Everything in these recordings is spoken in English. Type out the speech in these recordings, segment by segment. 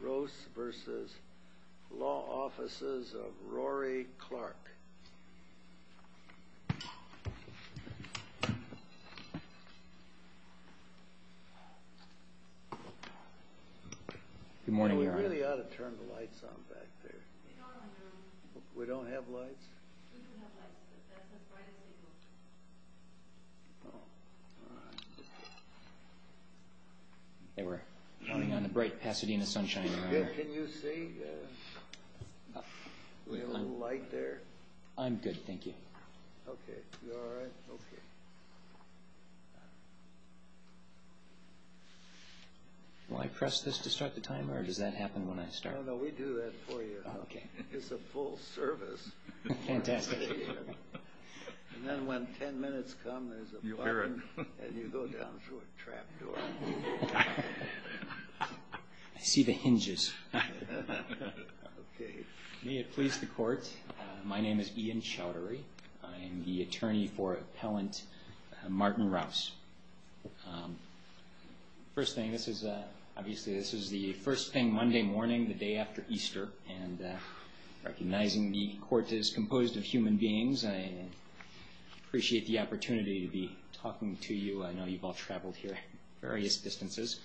Rouse, Jr. v. Law Offices of Rory Clark Good morning, Your Honor. We really ought to turn the lights on back there. They are on, Your Honor. We don't have lights? We do have lights, but that's a Friday table. Oh, all right. They were counting on the bright Pasadena sunshine, Your Honor. Can you see? Do we have a little light there? I'm good, thank you. Okay. You all right? Okay. Will I press this to start the timer, or does that happen when I start? No, no, we do that for you. Okay. It's a full service. Fantastic. And then when ten minutes come, there's a button, and you go down through a trap door. I see the hinges. Okay. May it please the Court, my name is Ian Chowdhury. I am the attorney for Appellant Martin Rouse. First thing, obviously this is the first thing Monday morning, the day after Easter, and recognizing the Court is composed of human beings, I appreciate the opportunity to be talking to you. I know you've all traveled here various distances.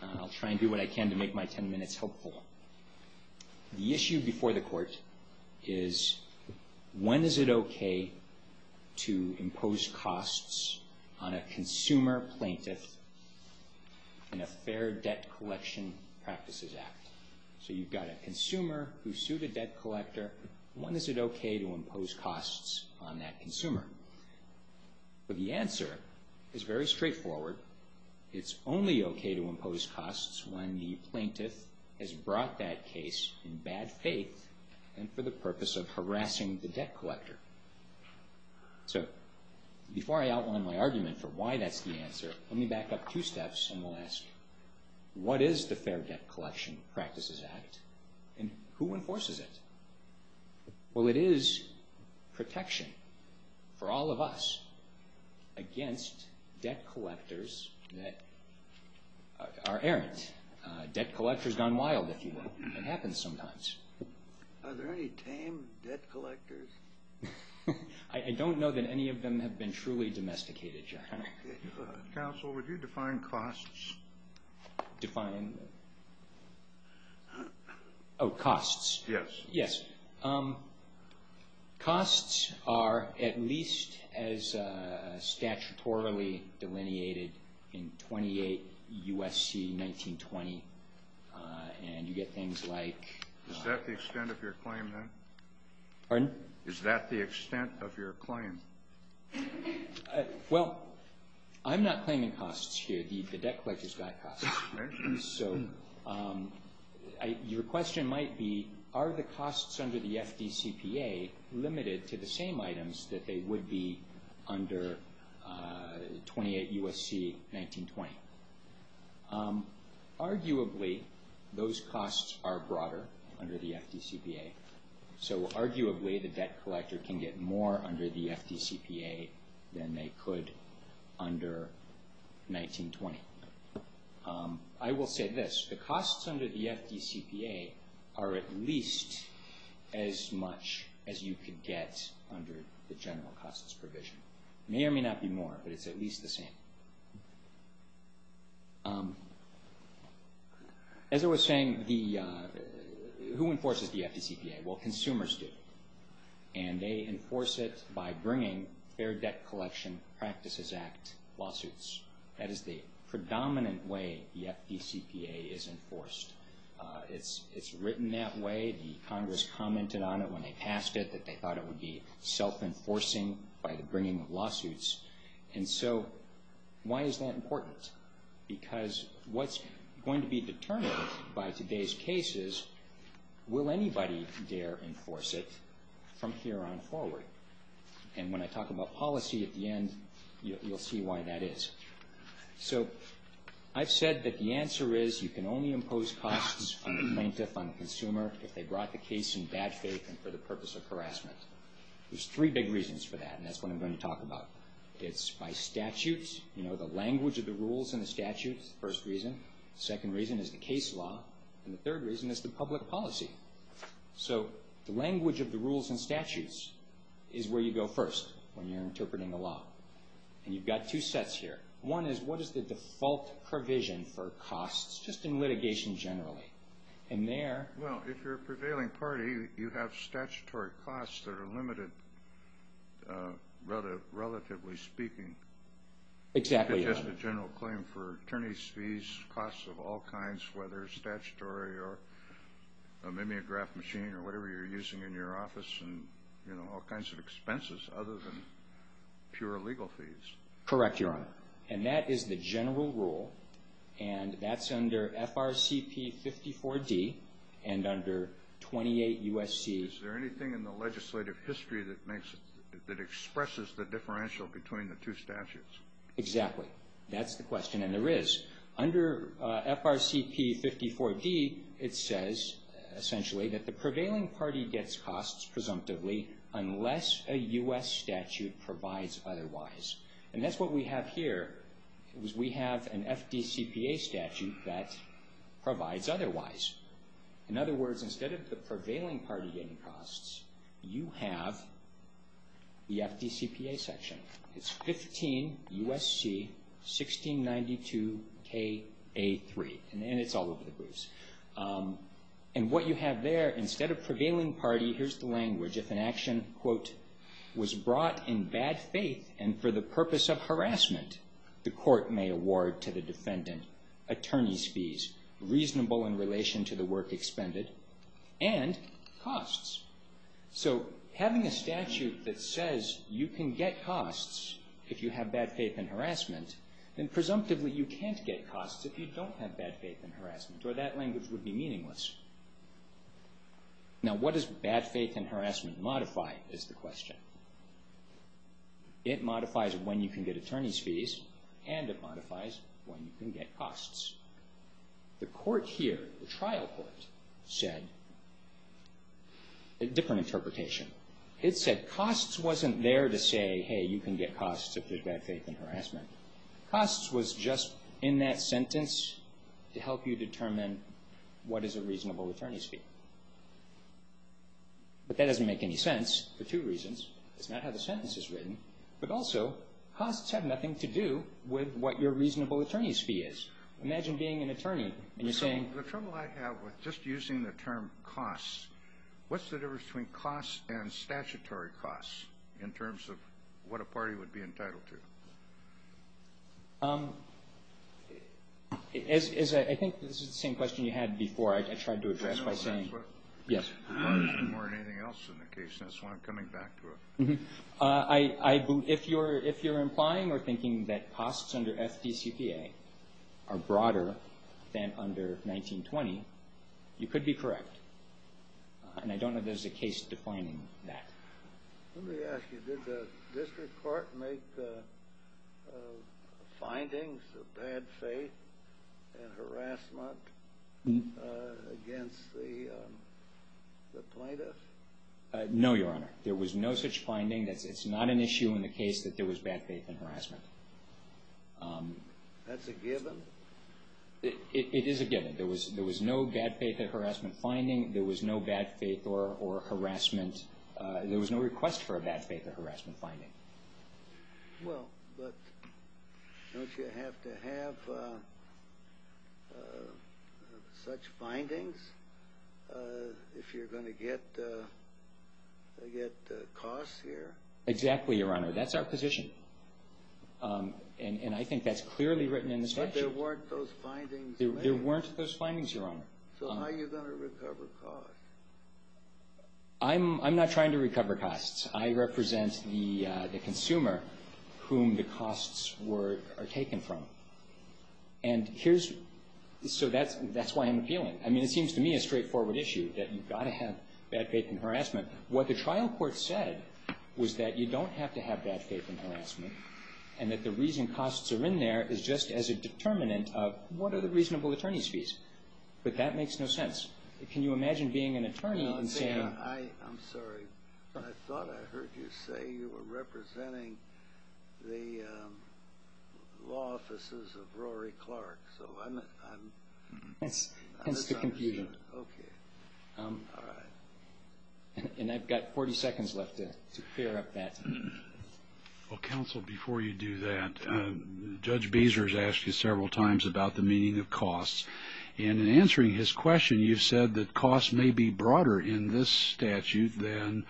I'll try and do what I can to make my ten minutes helpful. The issue before the Court is, when is it okay to impose costs on a consumer plaintiff in a Fair Debt Collection Practices Act? So you've got a consumer who sued a debt collector. When is it okay to impose costs on that consumer? The answer is very straightforward. It's only okay to impose costs when the plaintiff has brought that case in bad faith and for the purpose of harassing the debt collector. So before I outline my argument for why that's the answer, let me back up two steps and we'll ask, what is the Fair Debt Collection Practices Act and who enforces it? Well, it is protection for all of us against debt collectors that are errant. Debt collectors gone wild, if you will. It happens sometimes. Are there any tame debt collectors? I don't know that any of them have been truly domesticated, Your Honor. Counsel, would you define costs? Define? Oh, costs. Yes. Yes. Costs are at least as statutorily delineated in 28 U.S.C. 1920. And you get things like- Is that the extent of your claim, then? Pardon? Is that the extent of your claim? Well, I'm not claiming costs here. The debt collector's got costs. So your question might be, are the costs under the FDCPA limited to the same items that they would be under 28 U.S.C. 1920? Arguably, those costs are broader under the FDCPA. Arguably, the debt collector can get more under the FDCPA than they could under 1920. I will say this. The costs under the FDCPA are at least as much as you could get under the general costs provision. It may or may not be more, but it's at least the same. As I was saying, who enforces the FDCPA? Well, consumers do. And they enforce it by bringing Fair Debt Collection Practices Act lawsuits. That is the predominant way the FDCPA is enforced. It's written that way. The Congress commented on it when they passed it, that they thought it would be self-enforcing by the bringing of lawsuits. And so why is that important? Because what's going to be determined by today's case is, will anybody dare enforce it from here on forward? And when I talk about policy at the end, you'll see why that is. So I've said that the answer is, you can only impose costs on the plaintiff, on the consumer, if they brought the case in bad faith and for the purpose of harassment. There's three big reasons for that, and that's what I'm going to talk about. It's by statutes. You know, the language of the rules and the statutes is the first reason. The second reason is the case law. And the third reason is the public policy. So the language of the rules and statutes is where you go first when you're interpreting a law. And you've got two sets here. One is, what is the default provision for costs, just in litigation generally? Well, if you're a prevailing party, you have statutory costs that are limited, relatively speaking. Exactly. It's just a general claim for attorney's fees, costs of all kinds, whether statutory or maybe a graph machine or whatever you're using in your office, and all kinds of expenses other than pure legal fees. Correct, Your Honor. And that is the general rule. And that's under FRCP 54-D and under 28 U.S.C. Is there anything in the legislative history that expresses the differential between the two statutes? Exactly. That's the question, and there is. Under FRCP 54-D, it says, essentially, that the prevailing party gets costs, presumptively, unless a U.S. statute provides otherwise. And that's what we have here, is we have an FDCPA statute that provides otherwise. In other words, instead of the prevailing party getting costs, you have the FDCPA section. It's 15 U.S.C. 1692 K.A. 3, and it's all over the place. And what you have there, instead of prevailing party, here's the language, if an action, quote, was brought in bad faith and for the purpose of harassment, the court may award to the defendant attorney's fees, reasonable in relation to the work expended, and costs. So having a statute that says you can get costs if you have bad faith and harassment, then presumptively you can't get costs if you don't have bad faith and harassment, or that language would be meaningless. Now, what does bad faith and harassment modify, is the question. It modifies when you can get attorney's fees, and it modifies when you can get costs. The court here, the trial court, said a different interpretation. It said costs wasn't there to say, hey, you can get costs if there's bad faith and harassment. Costs was just in that sentence to help you determine what is a reasonable attorney's fee. But that doesn't make any sense for two reasons. That's not how the sentence is written. But also, costs have nothing to do with what your reasonable attorney's fee is. Imagine being an attorney, and you're saying— The trouble I have with just using the term costs, what's the difference between costs and statutory costs in terms of what a party would be entitled to? I think this is the same question you had before. I tried to address it by saying— I know that's what requires more than anything else in the case, and that's why I'm coming back to it. If you're implying or thinking that costs under FDCPA are broader than under 1920, you could be correct. And I don't know if there's a case defining that. Let me ask you, did the district court make findings of bad faith and harassment against the plaintiffs? No, Your Honor. There was no such finding. It's not an issue in the case that there was bad faith and harassment. That's a given? It is a given. There was no bad faith or harassment finding. There was no bad faith or harassment— There was no request for a bad faith or harassment finding. Well, but don't you have to have such findings if you're going to get costs here? Exactly, Your Honor. That's our position. And I think that's clearly written in the statute. But there weren't those findings— There weren't those findings, Your Honor. So how are you going to recover costs? I'm not trying to recover costs. I represent the consumer whom the costs were taken from. And here's—so that's why I'm appealing. I mean, it seems to me a straightforward issue that you've got to have bad faith and harassment. What the trial court said was that you don't have to have bad faith and harassment and that the reason costs are in there is just as a determinant of what are the reasonable attorney's fees. But that makes no sense. Can you imagine being an attorney and saying— I heard you say you were representing the law offices of Rory Clark. So I'm— Hence the confusion. Okay. All right. And I've got 40 seconds left to clear up that. Well, counsel, before you do that, Judge Bezer has asked you several times about the meaning of costs. And in answering his question, you said that costs may be broader in this statute than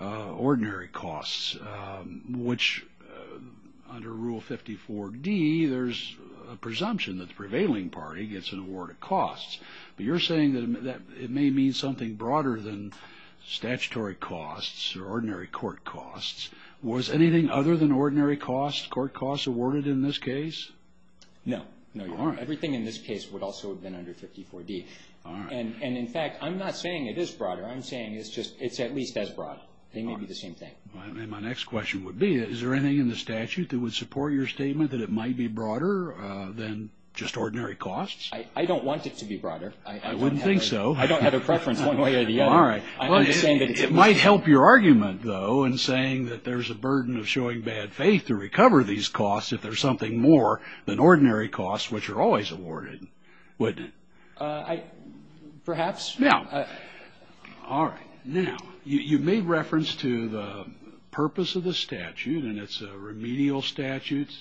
ordinary costs, which under Rule 54D, there's a presumption that the prevailing party gets an award of costs. But you're saying that it may mean something broader than statutory costs or ordinary court costs. Was anything other than ordinary costs, court costs, awarded in this case? No. No, Your Honor. Everything in this case would also have been under 54D. All right. And, in fact, I'm not saying it is broader. I'm saying it's at least as broad. They may be the same thing. My next question would be, is there anything in the statute that would support your statement that it might be broader than just ordinary costs? I don't want it to be broader. I wouldn't think so. I don't have a preference one way or the other. All right. I'm just saying that it's— It might help your argument, though, in saying that there's a burden of showing bad faith to recover these costs if there's something more than ordinary costs, which are always awarded, wouldn't it? Perhaps. All right. Now, you've made reference to the purpose of the statute, and it's a remedial statute. It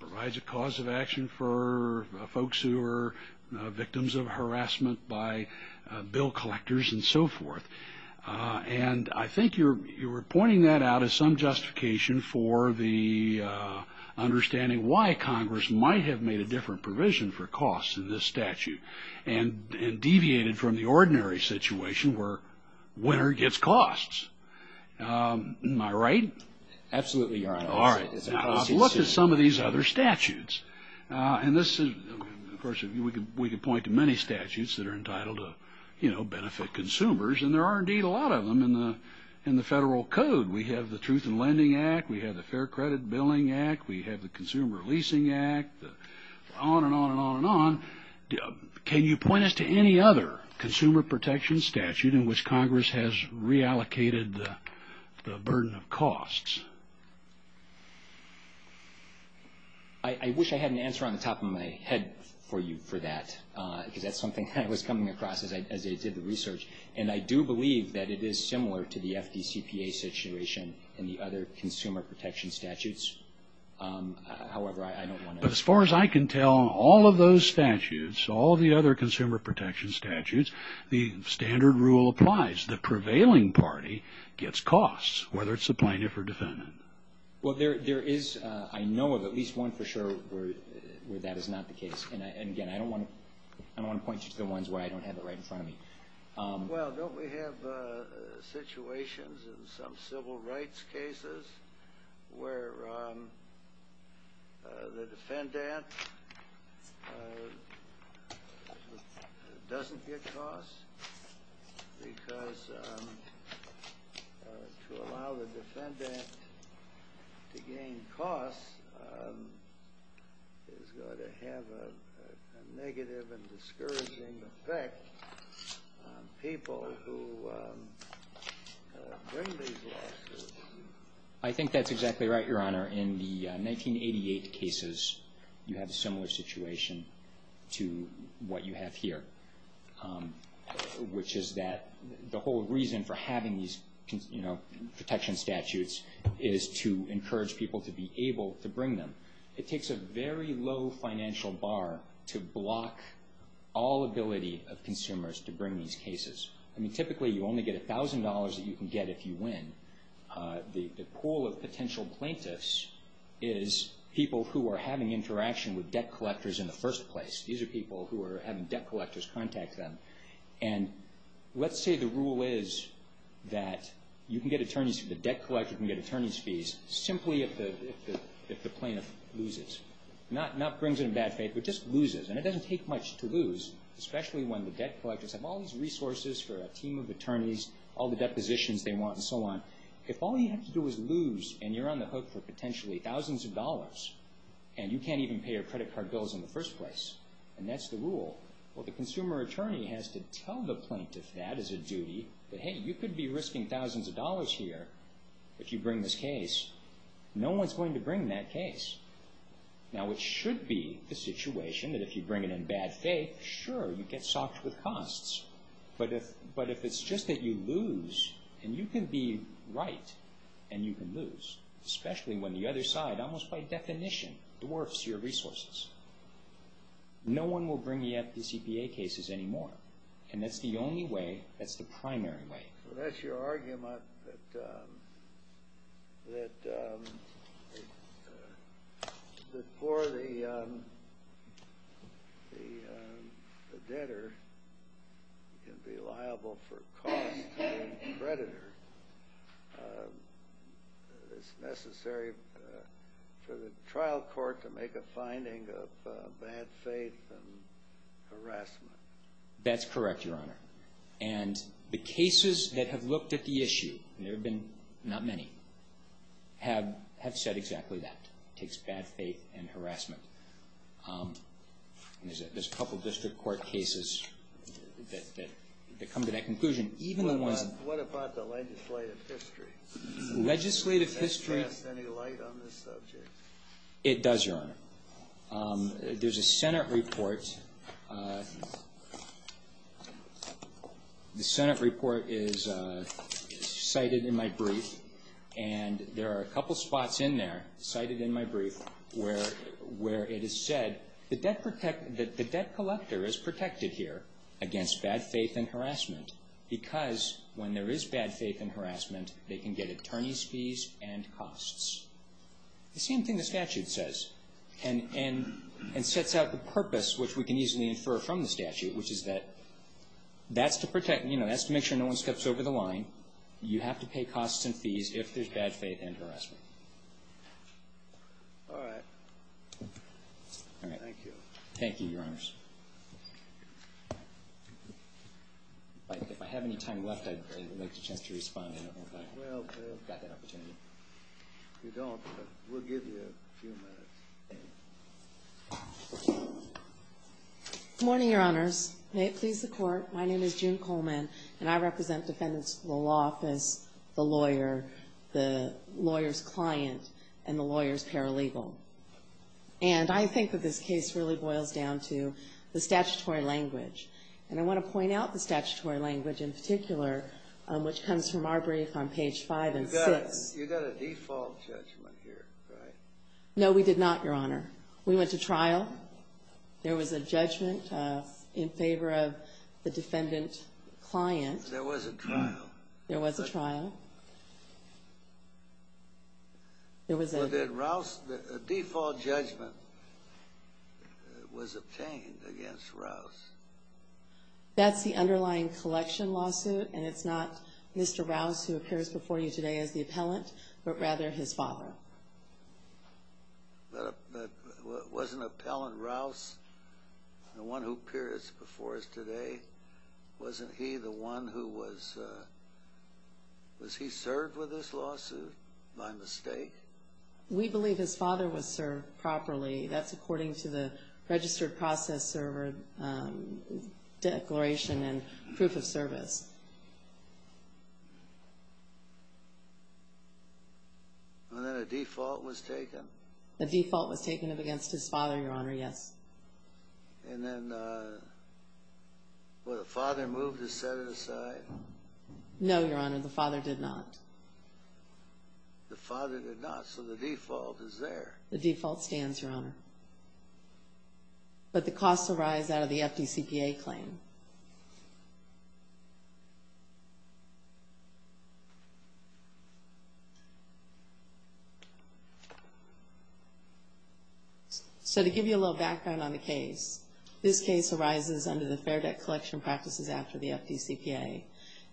provides a cause of action for folks who are victims of harassment by bill collectors and so forth. And I think you're pointing that out as some justification for the understanding why Congress might have made a different provision for costs in this statute and deviated from the ordinary situation where a winner gets costs. Am I right? Absolutely, Your Honor. All right. Look at some of these other statutes. And this is—of course, we could point to many statutes that are entitled to benefit consumers, and there are indeed a lot of them in the federal code. We have the Truth in Lending Act. We have the Fair Credit Billing Act. We have the Consumer Leasing Act, on and on and on and on. Can you point us to any other consumer protection statute in which Congress has reallocated the burden of costs? I wish I had an answer on the top of my head for you for that, because that's something I was coming across as I did the research. And I do believe that it is similar to the FDCPA situation in the other consumer protection statutes. However, I don't want to— But as far as I can tell, all of those statutes, all the other consumer protection statutes, the standard rule applies. The prevailing party gets costs, whether it's the plaintiff or defendant. Well, there is, I know of at least one for sure where that is not the case. And again, I don't want to point you to the ones where I don't have it right in front of me. Well, don't we have situations in some civil rights cases where the defendant doesn't get costs? Because to allow the defendant to gain costs is going to have a negative and discouraging effect on people who bring these lawsuits. I think that's exactly right, Your Honor. Your Honor, in the 1988 cases, you had a similar situation to what you have here, which is that the whole reason for having these protection statutes is to encourage people to be able to bring them. It takes a very low financial bar to block all ability of consumers to bring these cases. I mean, typically you only get $1,000 that you can get if you win. The pool of potential plaintiffs is people who are having interaction with debt collectors in the first place. These are people who are having debt collectors contact them. And let's say the rule is that you can get attorneys, the debt collector can get attorney's fees simply if the plaintiff loses. Not brings it in bad faith, but just loses. And it doesn't take much to lose, especially when the debt collectors have all these resources for a team of attorneys, all the depositions they want, and so on. If all you have to do is lose, and you're on the hook for potentially thousands of dollars, and you can't even pay your credit card bills in the first place, and that's the rule, well, the consumer attorney has to tell the plaintiff that as a duty, that, hey, you could be risking thousands of dollars here if you bring this case. No one's going to bring that case. Now, it should be the situation that if you bring it in bad faith, sure, you get socked with costs. But if it's just that you lose, and you can be right, and you can lose, especially when the other side, almost by definition, dwarfs your resources. No one will bring the FDCPA cases anymore. And that's the only way, that's the primary way. So that's your argument that for the debtor, you can be liable for costs to the creditor. It's necessary for the trial court to make a finding of bad faith and harassment. That's correct, Your Honor. And the cases that have looked at the issue, and there have been not many, have said exactly that. It takes bad faith and harassment. There's a couple district court cases that come to that conclusion. What about the legislative history? Legislative history. Does that cast any light on this subject? It does, Your Honor. There's a Senate report. The Senate report is cited in my brief, and there are a couple spots in there, cited in my brief, where it is said that the debt collector is protected here against bad faith and harassment, because when there is bad faith and harassment, they can get attorney's fees and costs. The same thing the statute says, and sets out the purpose, which we can easily infer from the statute, which is that that's to protect, you know, that's to make sure no one steps over the line. You have to pay costs and fees if there's bad faith and harassment. All right. All right. Thank you. Thank you, Your Honors. If I have any time left, I'd like a chance to respond. We've got that opportunity. If you don't, we'll give you a few minutes. Good morning, Your Honors. May it please the Court, my name is June Coleman, and I represent defendants in the law office, the lawyer, the lawyer's client, and the lawyer's paralegal. And I think that this case really boils down to the statutory language, and I want to point out the statutory language in particular, which comes from our brief on page 5 and 6. You got a default judgment here, right? No, we did not, Your Honor. We went to trial. There was a judgment in favor of the defendant client. There was a trial. There was a trial. There was a trial. But then Rouse, a default judgment was obtained against Rouse. That's the underlying collection lawsuit, and it's not Mr. Rouse who appears before you today as the appellant, but rather his father. But wasn't Appellant Rouse the one who appears before us today? Wasn't he the one who was served with this lawsuit by mistake? We believe his father was served properly. That's according to the registered process server declaration and proof of service. And then a default was taken? A default was taken against his father, Your Honor, yes. And then was the father moved to set it aside? No, Your Honor, the father did not. The father did not, so the default is there. The default stands, Your Honor. But the costs arise out of the FDCPA claim. So to give you a little background on the case, this case arises under the Fair Debt Collection Practices Act of the FDCPA,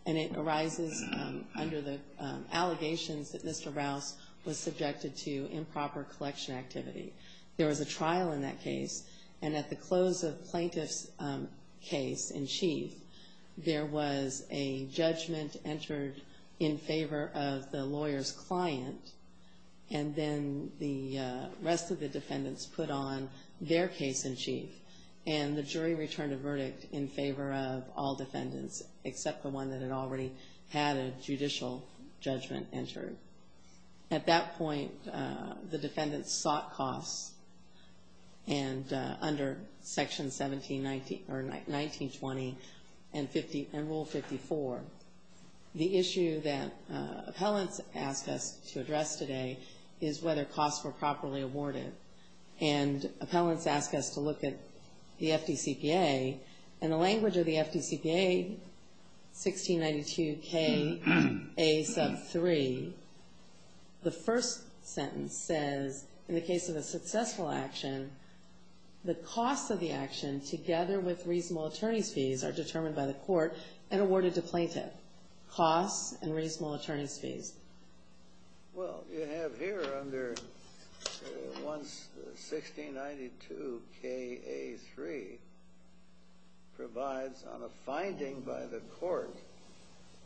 and it arises under the allegations that Mr. Rouse was subjected to improper collection activity. There was a trial in that case, and at the close of the plaintiff's case in chief, there was a judgment entered in favor of the lawyer's client, and then the rest of the defendants put on their case in chief, and the jury returned a verdict in favor of all defendants, except the one that had already had a judicial judgment entered. At that point, the defendants sought costs, and under Section 19-20 and Rule 54, the issue that appellants asked us to address today is whether costs were properly awarded. And appellants asked us to look at the FDCPA, and the language of the FDCPA, 1692Ka3, the first sentence says, in the case of a successful action, the costs of the action together with reasonable attorney's fees are determined by the court and awarded to plaintiff. Costs and reasonable attorney's fees. Well, you have here under 1692Ka3 provides on a finding by the court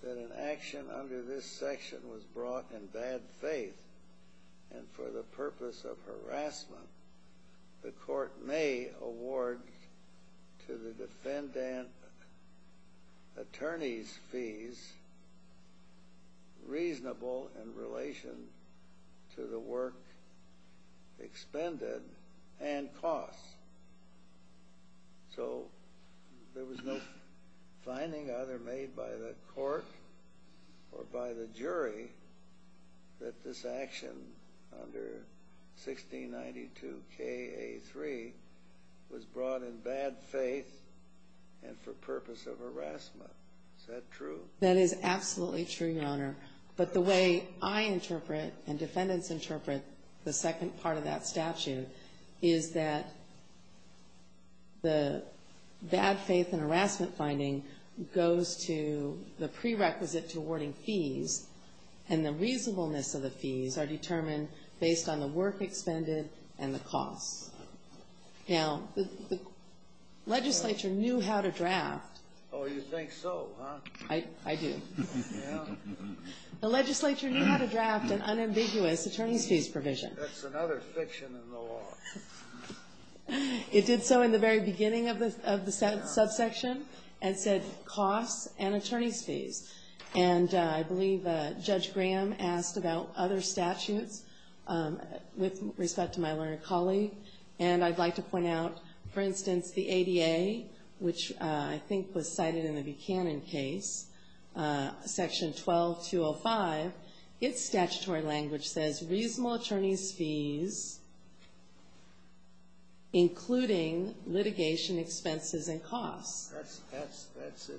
that an action under this section was brought in bad faith, and for the purpose of harassment, the court may award to the defendant attorney's fees reasonable in relation to the work expended and costs. So there was no finding either made by the court or by the jury that this action under 1692Ka3 was brought in bad faith and for purpose of harassment. Is that true? That is absolutely true, Your Honor. But the way I interpret and defendants interpret the second part of that statute is that the bad faith and harassment finding goes to the prerequisite to awarding fees, and the reasonableness of the fees are determined based on the work expended and the costs. Now, the legislature knew how to draft. Oh, you think so, huh? I do. Yeah? The legislature knew how to draft an unambiguous attorney's fees provision. That's another fiction in the law. It did so in the very beginning of the subsection and said costs and attorney's fees, and I believe Judge Graham asked about other statutes with respect to my learned colleague, and I'd like to point out, for instance, the ADA, which I think was cited in the Buchanan case, Section 12205, its statutory language says reasonable attorney's fees, including litigation expenses and costs. That's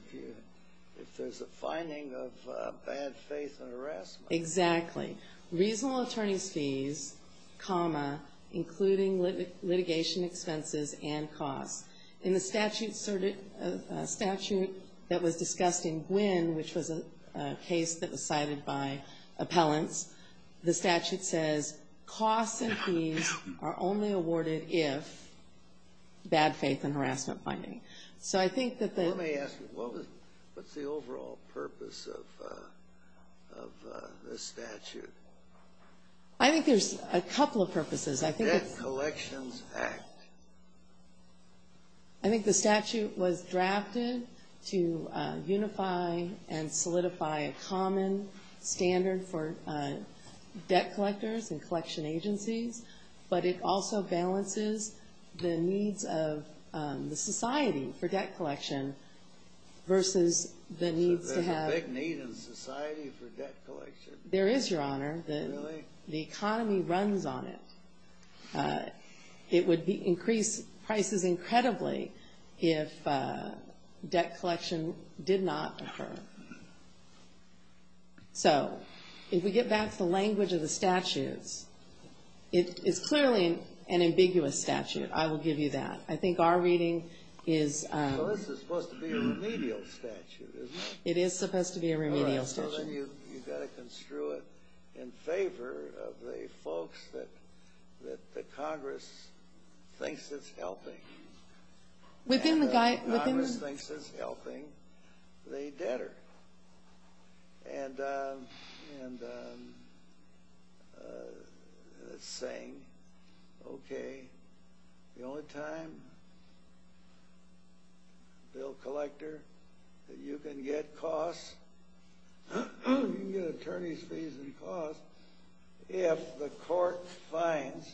if there's a finding of bad faith and harassment. Exactly. Reasonable attorney's fees, comma, including litigation expenses and costs. In the statute that was discussed in Gwin, which was a case that was cited by appellants, the statute says costs and fees are only awarded if bad faith and harassment finding. So I think that the — Let me ask you, what's the overall purpose of this statute? I think there's a couple of purposes. The Debt Collections Act. I think the statute was drafted to unify and solidify a common standard for debt collectors and collection agencies, but it also balances the needs of the society for debt collection versus the needs to have — There's a big need in society for debt collection. There is, Your Honor. Really? The economy runs on it. It would increase prices incredibly if debt collection did not occur. So if we get back to the language of the statutes, it's clearly an ambiguous statute. I will give you that. I think our reading is — Well, this is supposed to be a remedial statute, isn't it? It is supposed to be a remedial statute. Well, then you've got to construe it in favor of the folks that Congress thinks is helping. Within the — Congress thinks is helping the debtor. And it's saying, okay, the only time, Bill Collector, that you can get costs, you can get attorney's fees and costs, if the court finds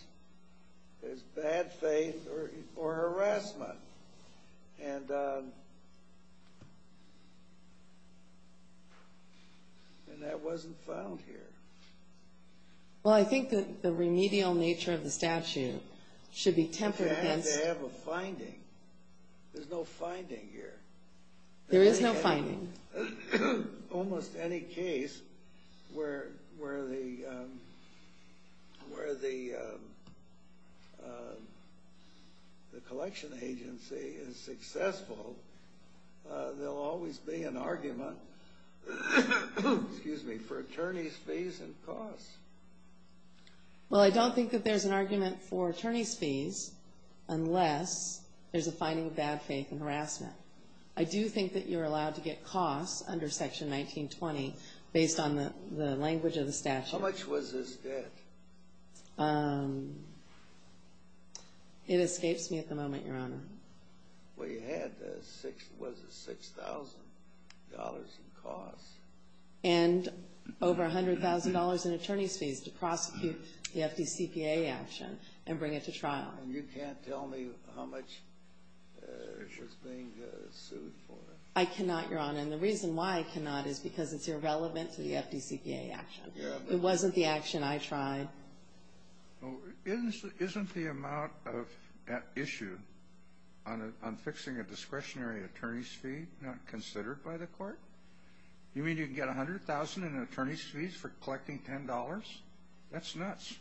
there's bad faith or harassment. And that wasn't found here. Well, I think that the remedial nature of the statute should be tempered against — It has to have a finding. There's no finding here. There is no finding. Almost any case where the collection agency is successful, there will always be an argument for attorney's fees and costs. Well, I don't think that there's an argument for attorney's fees unless there's a finding of bad faith and harassment. I do think that you're allowed to get costs under Section 1920 based on the language of the statute. How much was this debt? It escapes me at the moment, Your Honor. Well, you had — was it $6,000 in costs? And over $100,000 in attorney's fees to prosecute the FDCPA action and bring it to trial. And you can't tell me how much was being sued for? I cannot, Your Honor. And the reason why I cannot is because it's irrelevant to the FDCPA action. It wasn't the action I tried. Isn't the amount of issue on fixing a discretionary attorney's fee not considered by the court? You mean you can get $100,000 in attorney's fees for collecting $10? That's nuts.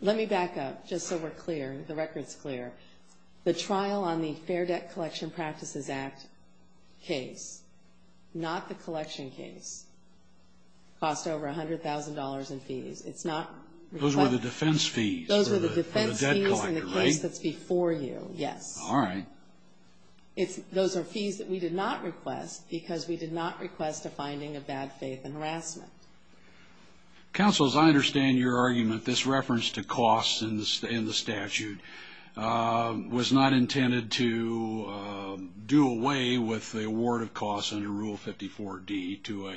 Let me back up just so we're clear, the record's clear. The trial on the Fair Debt Collection Practices Act case, not the collection case, cost over $100,000 in fees. It's not — Those were the defense fees for the debt collector, right? Those were the defense fees in the case that's before you, yes. All right. Those are fees that we did not request because we did not request a finding of bad faith and harassment. Counsel, as I understand your argument, this reference to cost in the statute was not intended to do away with the award of costs under Rule 54D to a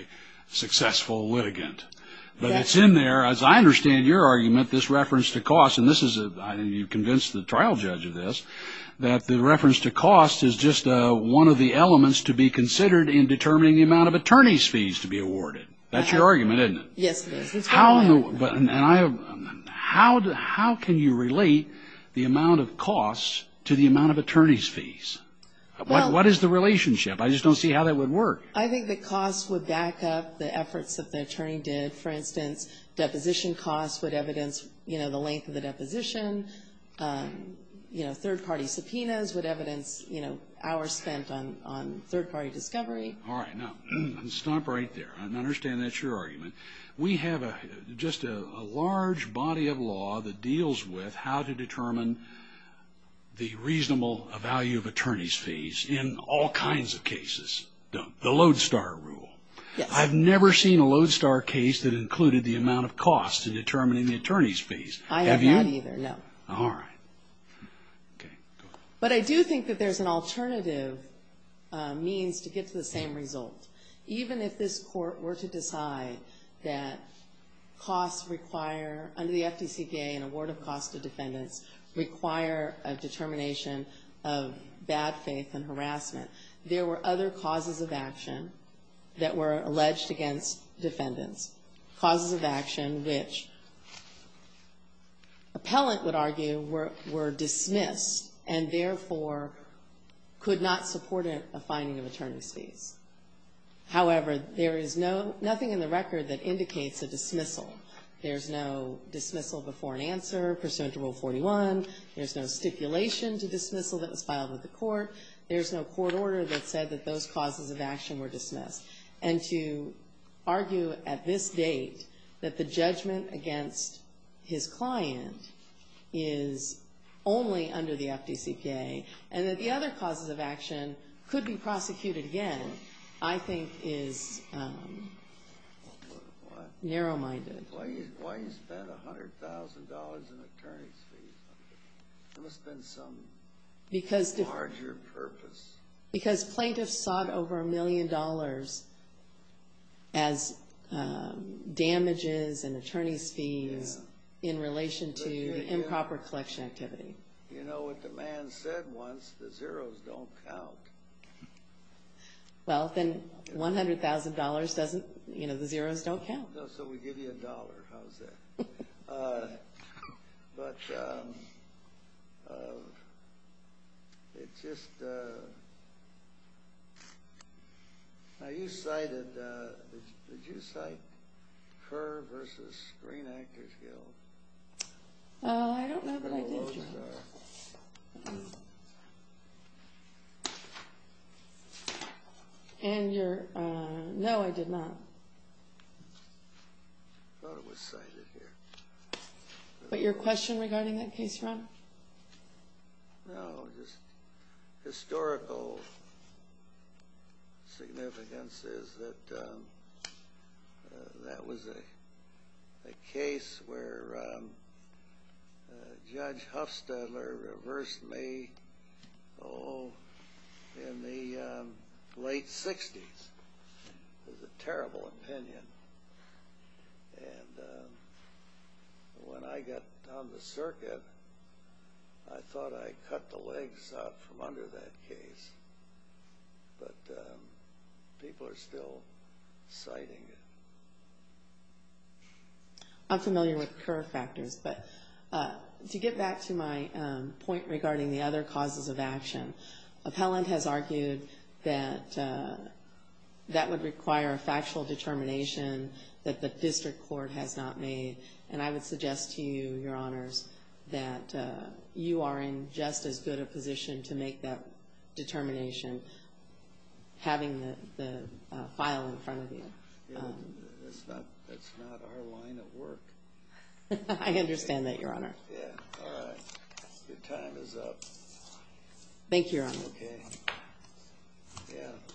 successful litigant. But it's in there, as I understand your argument, this reference to cost — and you've convinced the trial judge of this — that the reference to cost is just one of the elements to be considered in determining the amount of attorney's fees to be awarded. That's your argument, isn't it? Yes, it is. How can you relate the amount of costs to the amount of attorney's fees? What is the relationship? I just don't see how that would work. I think the costs would back up the efforts that the attorney did. For instance, deposition costs would evidence the length of the deposition. Third-party subpoenas would evidence hours spent on third-party discovery. All right. Now, stop right there. I understand that's your argument. We have just a large body of law that deals with how to determine the reasonable value of attorney's fees in all kinds of cases. The Lodestar Rule. I've never seen a Lodestar case that included the amount of costs in determining the attorney's fees. I have not either, no. All right. But I do think that there's an alternative means to get to the same result. Even if this court were to decide that costs require, under the FDCPA, an award of costs to defendants, require a determination of bad faith and harassment, there were other causes of action that were alleged against defendants, causes of action which appellant would argue were dismissed and, therefore, could not support a finding of attorney's fees. However, there is nothing in the record that indicates a dismissal. There's no dismissal before an answer pursuant to Rule 41. There's no stipulation to dismissal that was filed with the court. There's no court order that said that those causes of action were dismissed. And to argue at this date that the judgment against his client is only under the FDCPA and that the other causes of action could be prosecuted again, I think is narrow-minded. Why do you spend $100,000 in attorney's fees? There must have been some larger purpose. Because plaintiffs sought over a million dollars as damages and attorney's fees in relation to improper collection activity. You know what the man said once, the zeros don't count. Well, then $100,000 doesn't, you know, the zeros don't count. No, so we give you a dollar. How's that? But it's just, now you cited, did you cite Kerr v. Green Actors Guild? I don't know that I did. And your, no, I did not. I thought it was cited here. But your question regarding that case, Ron? No, just historical significance is that that was a case where Judge Hufstadler reversed May O in the late 60s. It was a terrible opinion. And when I got on the circuit, I thought I cut the legs out from under that case. But people are still citing it. I'm familiar with Kerr factors, but to get back to my point regarding the other causes of action, Appellant has argued that that would require a factual determination that the district court has not made. And I would suggest to you, Your Honors, that you are in just as good a position to make that determination having the file in front of you. That's not our line of work. I understand that, Your Honor. Yeah, all right. Your time is up. Thank you, Your Honor. Okay.